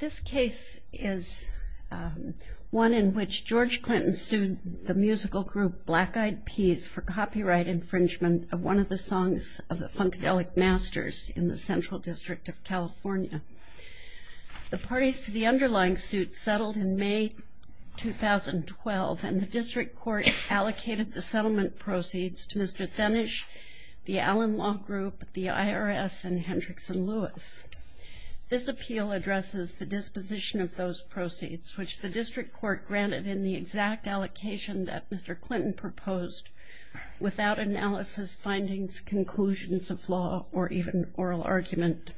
This case is one in which George Clinton sued the musical group Black Eyed Peas for copyright infringement of one of the songs of the Funkadelic Masters in the Central District of California. The parties to the underlying suit settled in May 2012, and the District Court allocated the settlement proceeds to Mr. Fenish, the Allen Law Group, the IRS, and Hendricks & Lewis. This appeal addresses the disposition of those proceeds, which the District Court granted in the exact allocation that Mr. Clinton proposed, without analysis, findings, conclusions of law, or even oral argument.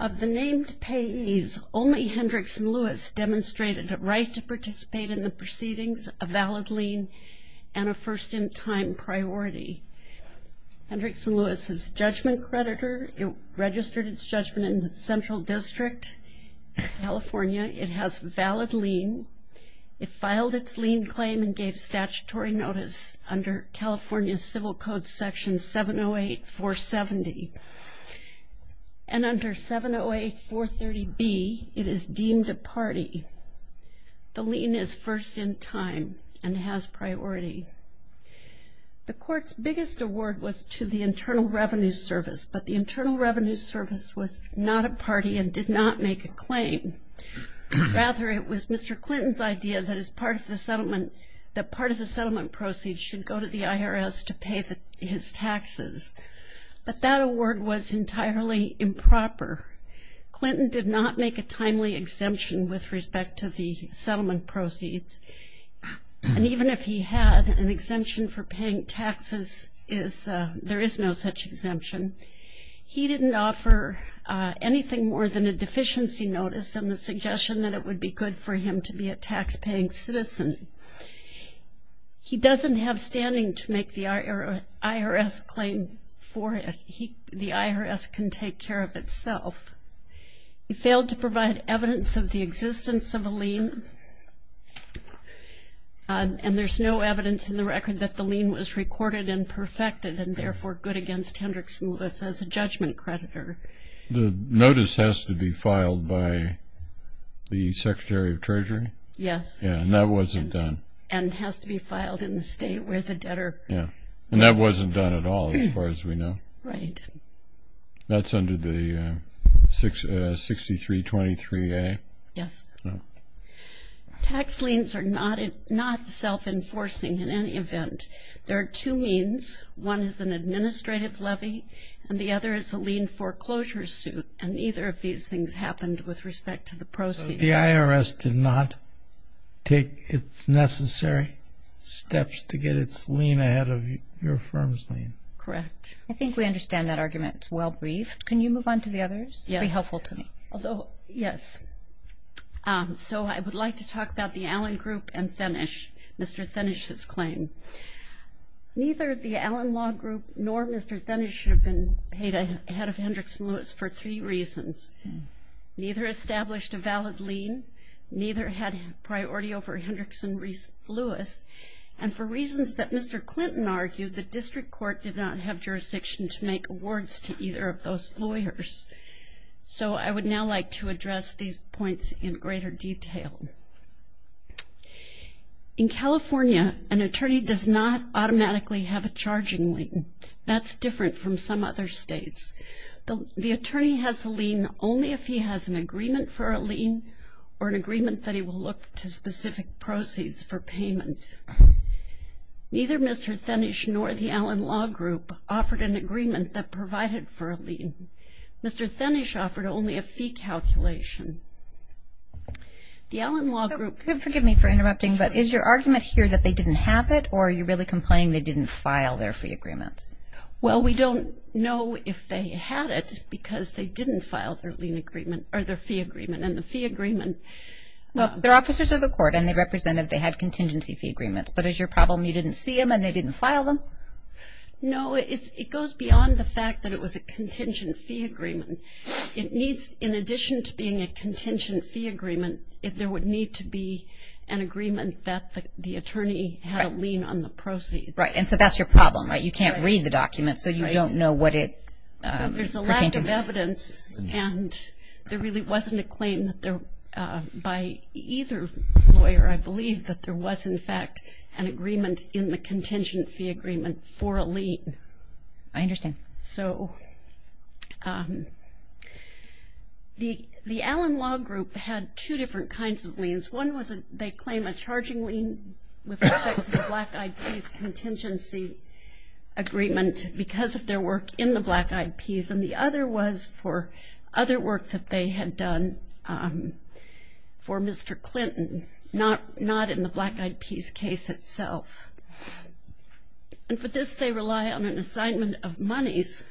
Of the named payees, only Hendricks & Lewis demonstrated a right to participate in the proceedings, a valid lien, and a first-in-time priority. Hendricks & Lewis is a judgment creditor. It registered its judgment in the Central District of California. It has a valid lien. It filed its lien claim and gave statutory notice under California Civil Code Section 708-470. And under 708-430B, it is deemed a party. The lien is first-in-time and has priority. The Court's biggest award was to the Internal Revenue Service, but the Internal Revenue Service was not a party and did not make a claim. Rather, it was Mr. Clinton's idea that part of the settlement proceeds should go to the IRS to pay his taxes. But that award was entirely improper. Clinton did not make a timely exemption with respect to the settlement proceeds, and even if he had, an exemption for paying taxes, there is no such exemption. He didn't offer anything more than a deficiency notice and the suggestion that it would be good for him to be a taxpaying citizen. He doesn't have standing to make the IRS claim for him. The IRS can take care of itself. He failed to provide evidence of the existence of a lien, and there's no evidence in the record that the lien was recorded and perfected and therefore good against Hendricks and Lewis as a judgment creditor. The notice has to be filed by the Secretary of Treasury? Yes. And that wasn't done? And has to be filed in the state where the debtor lives. And that wasn't done at all as far as we know? Right. That's under the 6323A? Yes. Tax liens are not self-enforcing in any event. There are two means. One is an administrative levy, and the other is a lien foreclosure suit, and neither of these things happened with respect to the proceeds. So the IRS did not take its necessary steps to get its lien ahead of your firm's lien? Correct. I think we understand that argument. It's well-briefed. Can you move on to the others? It would be helpful to me. Yes. So I would like to talk about the Allen Group and Thinnish, Mr. Thinnish's claim. Neither the Allen Law Group nor Mr. Thinnish should have been paid ahead of Hendricks and Lewis for three reasons. Neither established a valid lien, neither had priority over Hendricks and Lewis, and for reasons that Mr. Clinton argued, the district court did not have jurisdiction to make awards to either of those lawyers. So I would now like to address these points in greater detail. In California, an attorney does not automatically have a charging lien. That's different from some other states. The attorney has a lien only if he has an agreement for a lien or an agreement that he will look to specific proceeds for payment. Neither Mr. Thinnish nor the Allen Law Group offered an agreement that provided for a lien. Mr. Thinnish offered only a fee calculation. The Allen Law Group... So forgive me for interrupting, but is your argument here that they didn't have it or are you really complaining they didn't file their fee agreements? Well, we don't know if they had it because they didn't file their lien agreement or their fee agreement. And the fee agreement... Well, they're officers of the court and they represented they had contingency fee agreements. But is your problem you didn't see them and they didn't file them? No, it goes beyond the fact that it was a contingency fee agreement. It needs, in addition to being a contingency fee agreement, there would need to be an agreement that the attorney had a lien on the proceeds. Right, and so that's your problem, right? You can't read the document so you don't know what it pertained to. And there really wasn't a claim by either lawyer, I believe, that there was, in fact, an agreement in the contingency fee agreement for a lien. I understand. So the Allen Law Group had two different kinds of liens. One was they claim a charging lien with respect to the Black Eyed Peas contingency agreement because of their work in the Black Eyed Peas. And the other was for other work that they had done for Mr. Clinton, not in the Black Eyed Peas case itself. And for this they rely on an assignment of monies,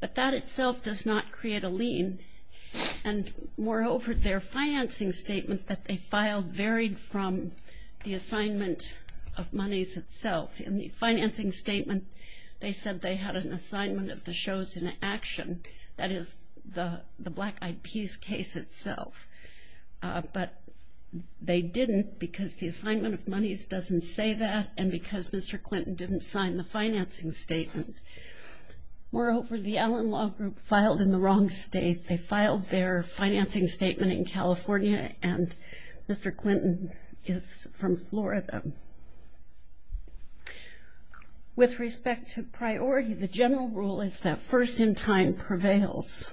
but that itself does not create a lien. And moreover, their financing statement that they filed varied from the assignment of monies itself. In the financing statement, they said they had an assignment of the shows in action, that is the Black Eyed Peas case itself. But they didn't because the assignment of monies doesn't say that and because Mr. Clinton didn't sign the financing statement. Moreover, the Allen Law Group filed in the wrong state. They filed their financing statement in California and Mr. Clinton is from Florida. With respect to priority, the general rule is that first in time prevails.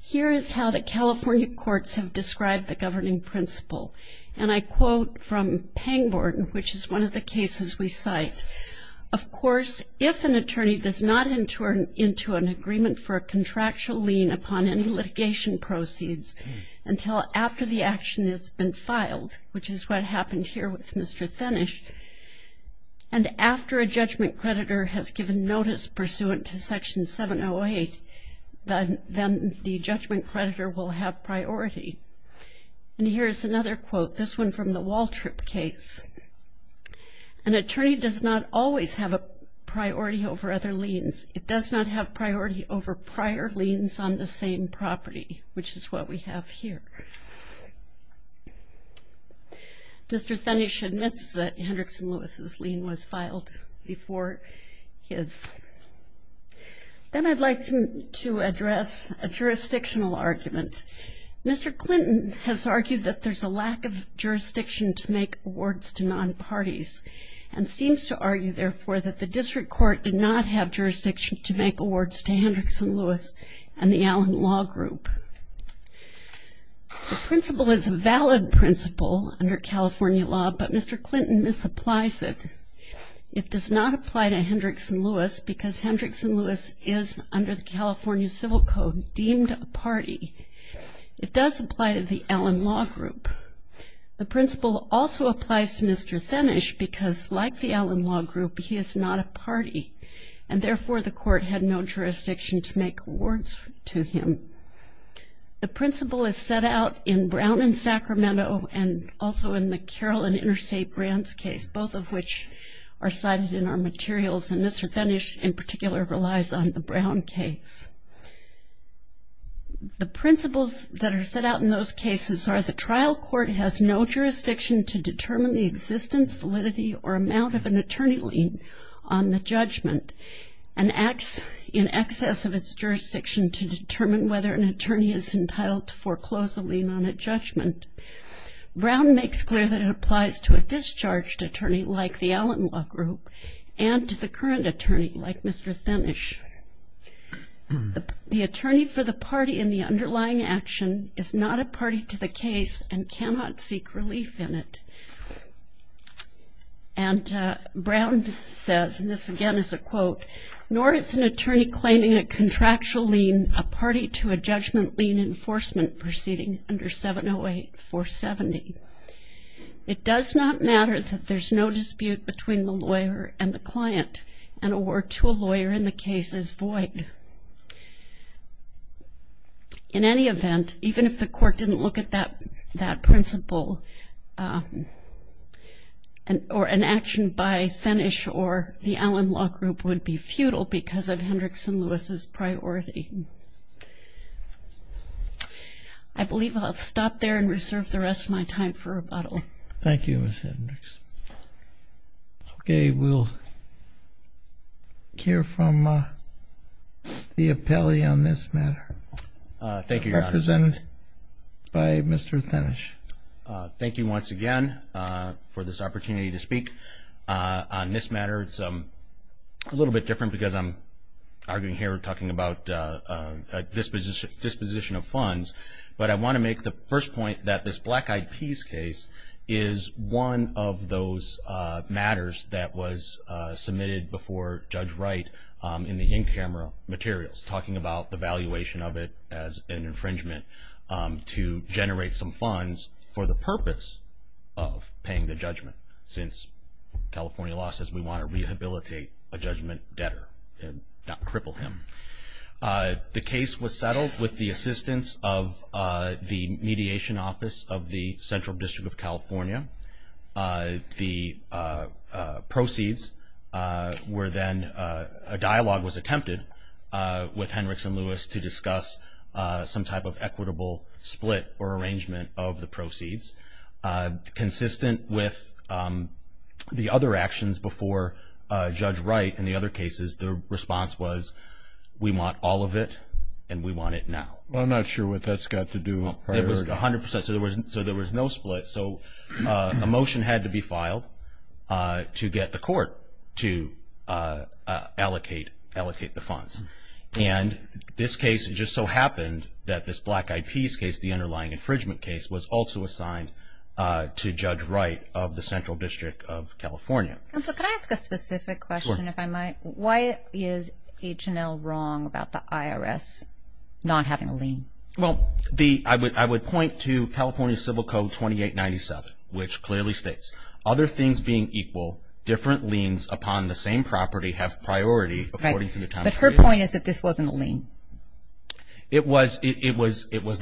Here is how the California courts have described the governing principle. And I quote from Pangborn, which is one of the cases we cite. Of course, if an attorney does not enter into an agreement for a contractual lien upon any litigation proceeds until after the action has been filed, which is what happened here with Mr. Fennish, and after a judgment creditor has given notice pursuant to Section 708, then the judgment creditor will have priority. And here is another quote, this one from the Waltrip case. An attorney does not always have a priority over other liens. It does not have priority over prior liens on the same property, which is what we have here. Mr. Fennish admits that Hendricks and Lewis's lien was filed before his. Then I'd like to address a jurisdictional argument. Mr. Clinton has argued that there's a lack of jurisdiction to make awards to non-parties and seems to argue, therefore, that the district court did not have jurisdiction to make awards to Hendricks and Lewis and the Allen Law Group. The principle is a valid principle under California law, but Mr. Clinton misapplies it. It does not apply to Hendricks and Lewis because Hendricks and Lewis is, under the California Civil Code, deemed a party. It does apply to the Allen Law Group. The principle also applies to Mr. Fennish because, like the Allen Law Group, he is not a party, and therefore, the court had no jurisdiction to make awards to him. The principle is set out in Brown v. Sacramento and also in the Carroll v. Interstate Brands case, both of which are cited in our materials, and Mr. Fennish, in particular, relies on the Brown case. The principles that are set out in those cases are the trial court has no jurisdiction to determine the existence, validity, or amount of an attorney lien on the judgment and acts in excess of its jurisdiction to determine whether an attorney is entitled to foreclose a lien on a judgment. Brown makes clear that it applies to a discharged attorney, like the Allen Law Group, and to the current attorney, like Mr. Fennish. The attorney for the party in the underlying action is not a party to the case and cannot seek relief in it. And Brown says, and this again is a quote, nor is an attorney claiming a contractual lien a party to a judgment lien enforcement proceeding under 708-470. It does not matter that there's no dispute between the lawyer and the client. An award to a lawyer in the case is void. In any event, even if the court didn't look at that principle, or an action by Fennish or the Allen Law Group would be futile because of Hendricks and Lewis's priority. I believe I'll stop there and reserve the rest of my time for rebuttal. Thank you, Ms. Hendricks. Okay, we'll hear from the appellee on this matter. Thank you, Your Honor. Represented by Mr. Fennish. Thank you once again for this opportunity to speak on this matter. It's a little bit different because I'm arguing here talking about disposition of funds, but I want to make the first point that this Black Eyed Peas case is one of those matters that was submitted before Judge Wright in the in-camera materials, talking about the valuation of it as an infringement to generate some funds for the purpose of paying the judgment. Since California law says we want to rehabilitate a judgment debtor and not cripple him. The case was settled with the assistance of the Mediation Office of the Central District of California. The proceeds were then, a dialogue was attempted with Hendricks and Lewis to discuss some type of equitable split consistent with the other actions before Judge Wright. In the other cases, the response was we want all of it and we want it now. Well, I'm not sure what that's got to do with priority. It was 100%. So, there was no split. So, a motion had to be filed to get the court to allocate the funds. And this case just so happened that this Black Eyed Peas case, the underlying infringement case, was also assigned to Judge Wright of the Central District of California. Counsel, can I ask a specific question if I might? Why is H&L wrong about the IRS not having a lien? Well, I would point to California Civil Code 2897, which clearly states, other things being equal, different liens upon the same property have priority according to the time period. But her point is that this wasn't a lien. It was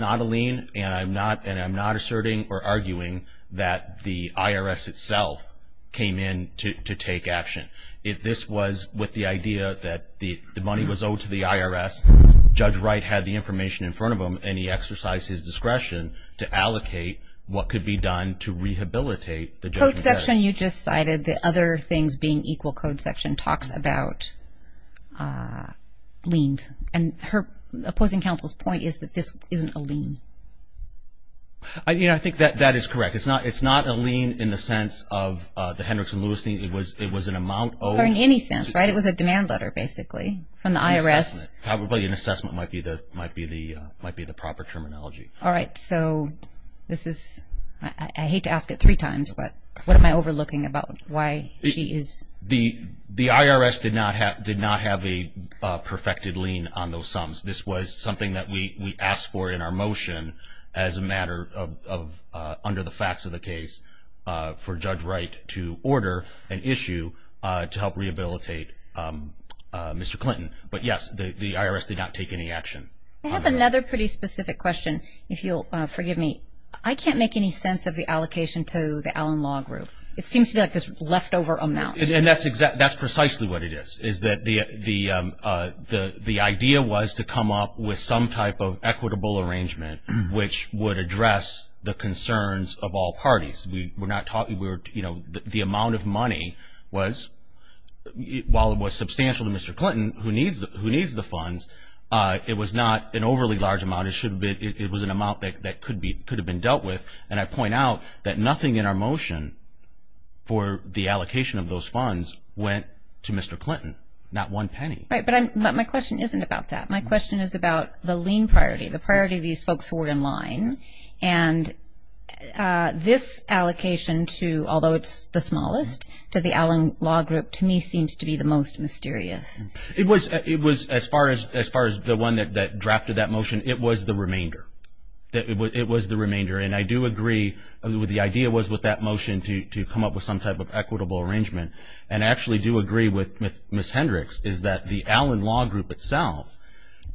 not a lien, and I'm not asserting or arguing that the IRS itself came in to take action. This was with the idea that the money was owed to the IRS. Judge Wright had the information in front of him, and he exercised his discretion to allocate what could be done to rehabilitate the judge. The code section you just cited, the other things being equal code section, talks about liens. And her opposing counsel's point is that this isn't a lien. You know, I think that that is correct. It's not a lien in the sense of the Hendrickson-Lewis lien. It was an amount owed. Or in any sense, right? It was a demand letter, basically, from the IRS. Probably an assessment might be the proper terminology. All right. So this is ‑‑ I hate to ask it three times, but what am I overlooking about why she is ‑‑ The IRS did not have a perfected lien on those sums. This was something that we asked for in our motion as a matter of, under the facts of the case, for Judge Wright to order an issue to help rehabilitate Mr. Clinton. But, yes, the IRS did not take any action. I have another pretty specific question, if you'll forgive me. I can't make any sense of the allocation to the Allen Law Group. It seems to me like there's leftover amounts. And that's precisely what it is, is that the idea was to come up with some type of equitable arrangement which would address the concerns of all parties. We're not talking, you know, the amount of money was, while it was substantial to Mr. Clinton, who needs the funds, it was not an overly large amount. It was an amount that could have been dealt with. And I point out that nothing in our motion for the allocation of those funds went to Mr. Clinton, not one penny. Right, but my question isn't about that. My question is about the lien priority, the priority of these folks who are in line. And this allocation to, although it's the smallest, to the Allen Law Group to me seems to be the most mysterious. It was, as far as the one that drafted that motion, it was the remainder. It was the remainder. And I do agree with what the idea was with that motion to come up with some type of equitable arrangement. And I actually do agree with Ms. Hendricks, is that the Allen Law Group itself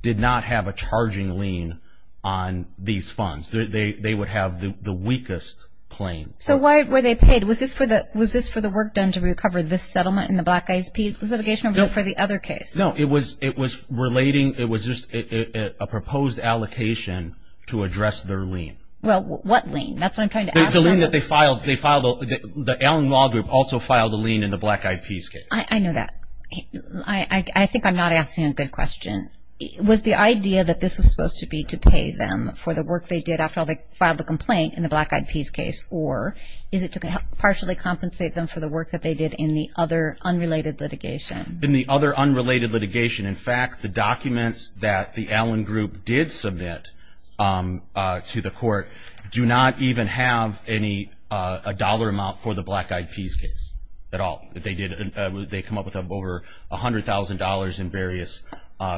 did not have a charging lien on these funds. They would have the weakest claim. So why were they paid? Was this for the work done to recover this settlement in the Black Eyed Peas litigation or for the other case? No, it was relating, it was just a proposed allocation to address their lien. Well, what lien? That's what I'm trying to ask. The lien that they filed, the Allen Law Group also filed a lien in the Black Eyed Peas case. I know that. I think I'm not asking a good question. Was the idea that this was supposed to be to pay them for the work they did after they filed the complaint in the Black Eyed Peas case, or is it to partially compensate them for the work that they did in the other unrelated litigation? In the other unrelated litigation, in fact, the documents that the Allen Group did submit to the court do not even have a dollar amount for the Black Eyed Peas case at all. They come up with over $100,000 in various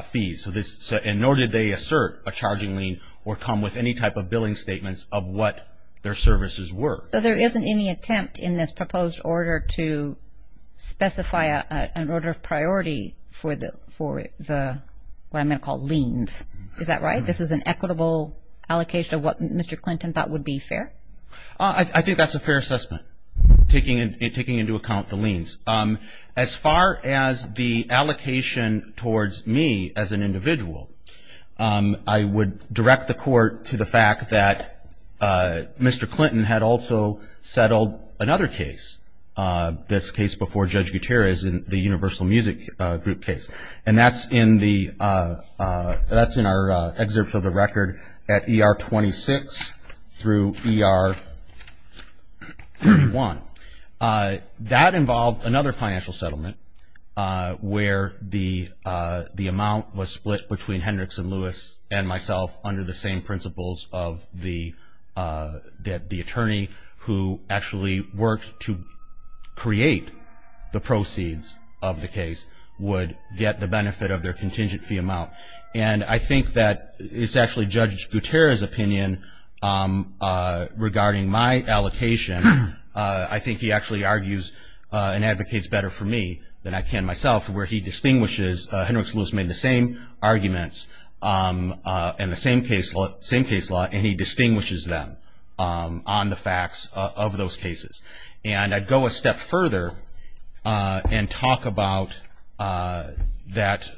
fees, and nor did they assert a charging lien or come with any type of billing statements of what their services were. So there isn't any attempt in this proposed order to specify an order of priority for what I'm going to call liens. Is that right? This is an equitable allocation of what Mr. Clinton thought would be fair? I think that's a fair assessment, taking into account the liens. As far as the allocation towards me as an individual, I would direct the court to the fact that Mr. Clinton had also settled another case, this case before Judge Gutierrez in the Universal Music Group case, and that's in our excerpts of the record at ER 26 through ER 1. That involved another financial settlement where the amount was split between Hendricks and Lewis and myself under the same principles that the attorney who actually worked to create the proceeds of the case would get the benefit of their contingent fee amount. And I think that it's actually Judge Gutierrez's opinion regarding my allocation. I think he actually argues and advocates better for me than I can myself, where he distinguishes Hendricks and Lewis made the same arguments and the same case law, and he distinguishes them on the facts of those cases. And I'd go a step further and talk about that.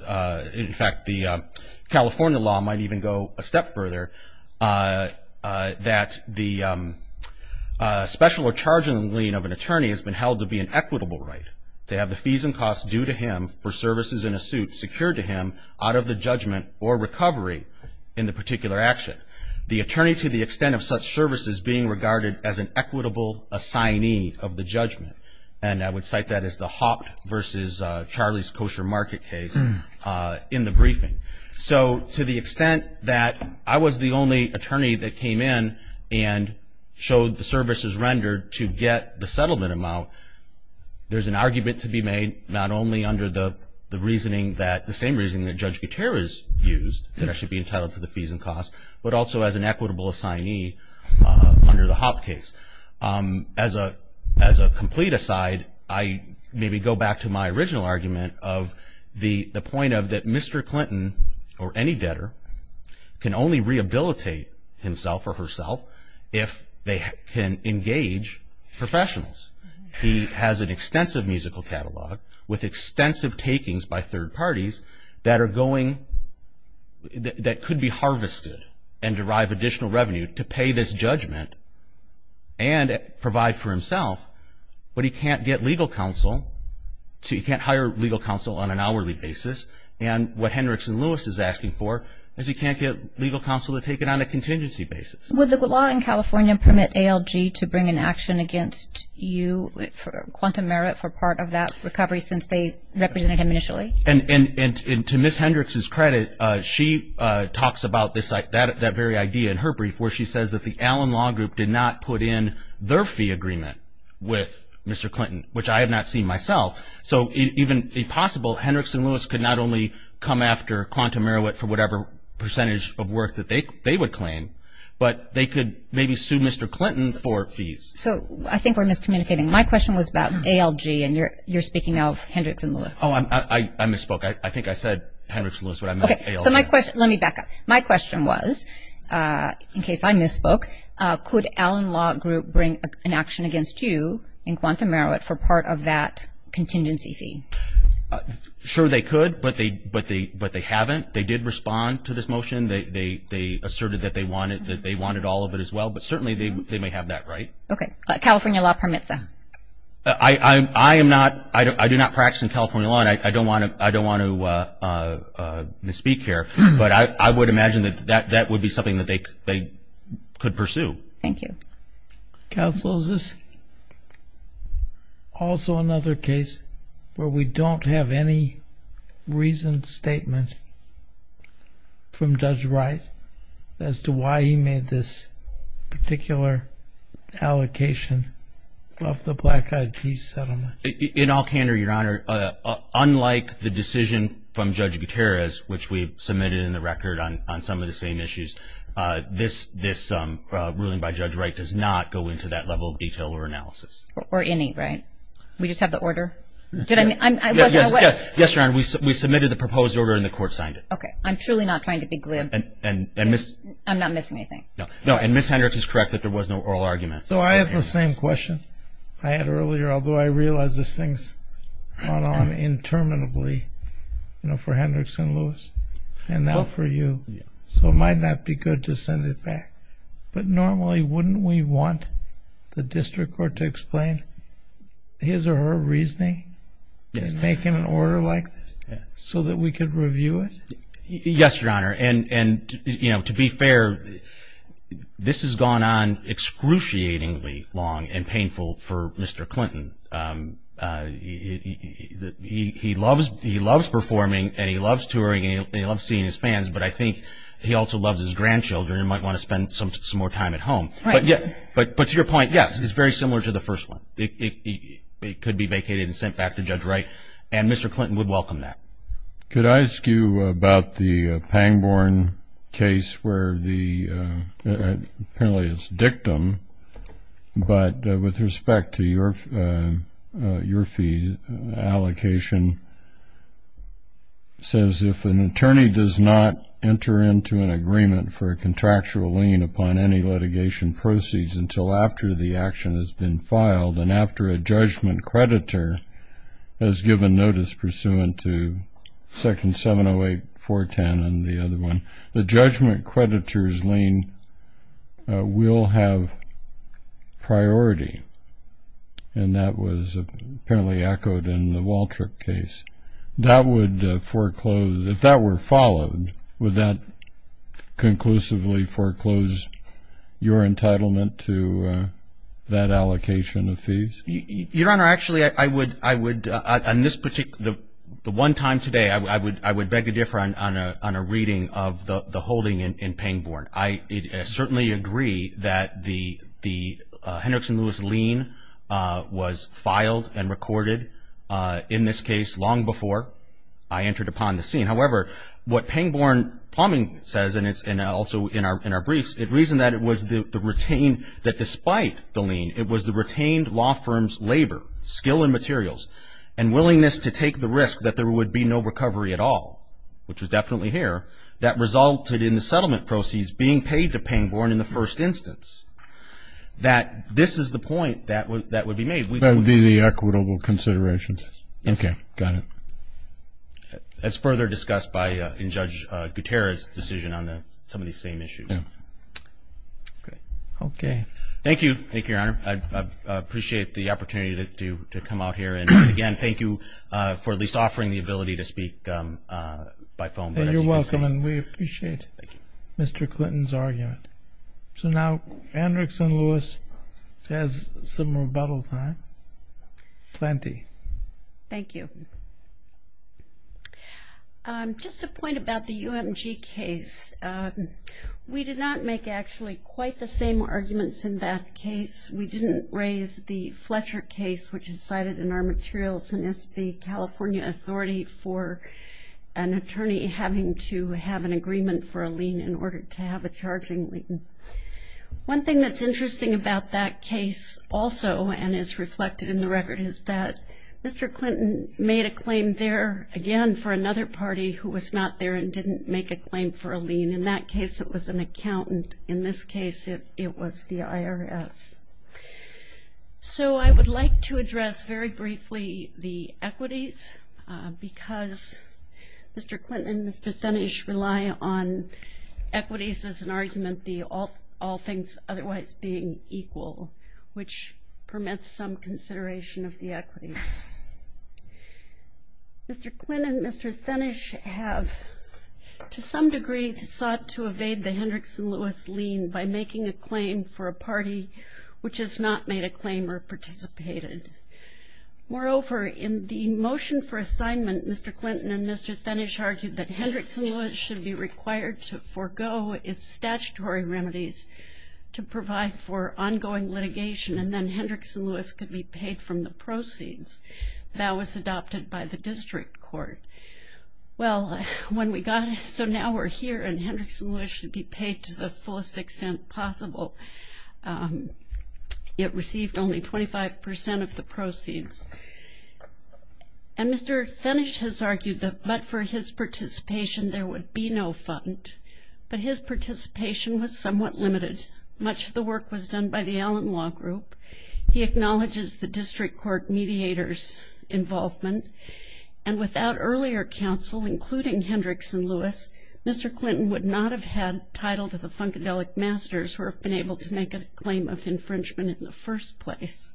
In fact, the California law might even go a step further, that the special or charging lien of an attorney has been held to be an equitable right, to have the fees and costs due to him for services in a suit secured to him out of the judgment or recovery in the particular action. The attorney to the extent of such services being regarded as an equitable assignee of the judgment, and I would cite that as the Haupt versus Charlie's Kosher Market case in the briefing. So to the extent that I was the only attorney that came in and showed the services rendered to get the settlement amount, there's an argument to be made not only under the reasoning that, the same reasoning that Judge Gutierrez used, that I should be entitled to the fees and costs, but also as an equitable assignee under the Haupt case. As a complete aside, I maybe go back to my original argument of the point of that Mr. Clinton, or any debtor, can only rehabilitate himself or herself if they can engage professionals. He has an extensive musical catalog with extensive takings by third parties that are going, that could be harvested and derive additional revenue to pay this judgment and provide for himself, but he can't get legal counsel, he can't hire legal counsel on an hourly basis, and what Hendricks and Lewis is asking for is he can't get legal counsel to take it on a contingency basis. Would the law in California permit ALG to bring an action against you for quantum merit for part of that recovery since they represented him initially? And to Ms. Hendricks' credit, she talks about this, that very idea in her brief, where she says that the Allen Law Group did not put in their fee agreement with Mr. Clinton, which I have not seen myself. So even a possible Hendricks and Lewis could not only come after quantum merit for whatever percentage of work that they would claim, but they could maybe sue Mr. Clinton for fees. So I think we're miscommunicating. My question was about ALG and you're speaking of Hendricks and Lewis. Oh, I misspoke. I think I said Hendricks and Lewis, but I meant ALG. Okay. So my question, let me back up. My question was, in case I misspoke, could Allen Law Group bring an action against you in quantum merit for part of that contingency fee? Sure they could, but they haven't. They did respond to this motion. They asserted that they wanted all of it as well, but certainly they may have that right. Okay. California law permits that. I do not practice in California law, and I don't want to misspeak here, but I would imagine that that would be something that they could pursue. Thank you. Counsel, is this also another case where we don't have any reasoned statement from Judge Wright as to why he made this particular allocation of the black ID settlement? In all candor, Your Honor, unlike the decision from Judge Gutierrez, which we submitted in the record on some of the same issues, this ruling by Judge Wright does not go into that level of detail or analysis. Or any, right? We just have the order? Yes, Your Honor. We submitted the proposed order and the court signed it. Okay. I'm truly not trying to be glib. I'm not missing anything. No, and Ms. Hendricks is correct that there was no oral argument. So I have the same question I had earlier, although I realize this thing's gone on interminably for Hendricks and Lewis and now for you. So it might not be good to send it back, but normally wouldn't we want the district court to explain his or her reasoning to make him an order like this so that we could review it? Yes, Your Honor, and, you know, to be fair, this has gone on excruciatingly long and painful for Mr. Clinton. He loves performing and he loves touring and he loves seeing his fans, but I think he also loves his grandchildren and might want to spend some more time at home. But to your point, yes, it's very similar to the first one. It could be vacated and sent back to Judge Wright, and Mr. Clinton would welcome that. Could I ask you about the Pangborn case where the penalty is dictum, but with respect to your fee allocation, it says if an attorney does not enter into an agreement for a contractual lien upon any litigation proceeds until after the action has been filed and after a judgment creditor has given notice pursuant to Section 708.410 and the other one, the judgment creditor's lien will have priority, and that was apparently echoed in the Waltrip case. That would foreclose, if that were followed, would that conclusively foreclose your entitlement to that allocation of fees? Your Honor, actually I would, on this particular, the one time today, I would beg to differ on a reading of the holding in Pangborn. I certainly agree that the Hendrickson-Lewis lien was filed and recorded in this case long before I entered upon the scene. However, what Pangborn Plumbing says, and also in our briefs, it reasoned that it was the retained, that despite the lien, it was the retained law firm's labor, skill and materials, and willingness to take the risk that there would be no recovery at all, which was definitely here, that resulted in the settlement proceeds being paid to Pangborn in the first instance, that this is the point that would be made. That would be the equitable considerations? Yes. Okay. Got it. That's further discussed by Judge Gutierrez's decision on some of these same issues. Okay. Thank you, Your Honor. I appreciate the opportunity to come out here. And again, thank you for at least offering the ability to speak by phone. You're welcome, and we appreciate Mr. Clinton's argument. So now Hendrickson-Lewis has some rebuttal time, plenty. Thank you. Just a point about the UMG case. We did not make actually quite the same arguments in that case. We didn't raise the Fletcher case, which is cited in our materials, and it's the California authority for an attorney having to have an agreement for a lien in order to have a charging lien. One thing that's interesting about that case also, and is reflected in the record, is that Mr. Clinton made a claim there, again, for another party who was not there and didn't make a claim for a lien. In that case, it was an accountant. In this case, it was the IRS. So I would like to address very briefly the equities, because Mr. Clinton and Mr. Fenish rely on equities as an argument, the all things otherwise being equal, which permits some consideration of the equities. Mr. Clinton and Mr. Fenish have, to some degree, sought to evade the Hendrickson-Lewis lien by making a claim for a party which has not made a claim or participated. Moreover, in the motion for assignment, Mr. Clinton and Mr. Fenish argued that Hendrickson-Lewis should be required to forego its statutory remedies to provide for ongoing litigation, and then Hendrickson-Lewis could be paid from the proceeds. That was adopted by the district court. Well, when we got it, so now we're here, and Hendrickson-Lewis should be paid to the fullest extent possible. It received only 25% of the proceeds. And Mr. Fenish has argued that but for his participation there would be no fund, but his participation was somewhat limited. Much of the work was done by the Allen Law Group. He acknowledges the district court mediators' involvement, and without earlier counsel, including Hendrickson-Lewis, Mr. Clinton would not have had title to the Funkadelic Masters who have been able to make a claim of infringement in the first place.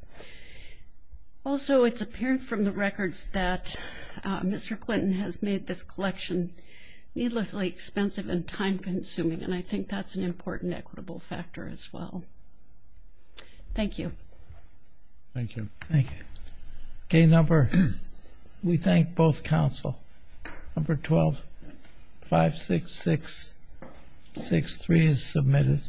Also, it's apparent from the records that Mr. Clinton has made this collection needlessly expensive and time-consuming, and I think that's an important equitable factor as well. Thank you. Thank you. Thank you. Okay, number, we thank both counsel. Number 12-566-63 is submitted.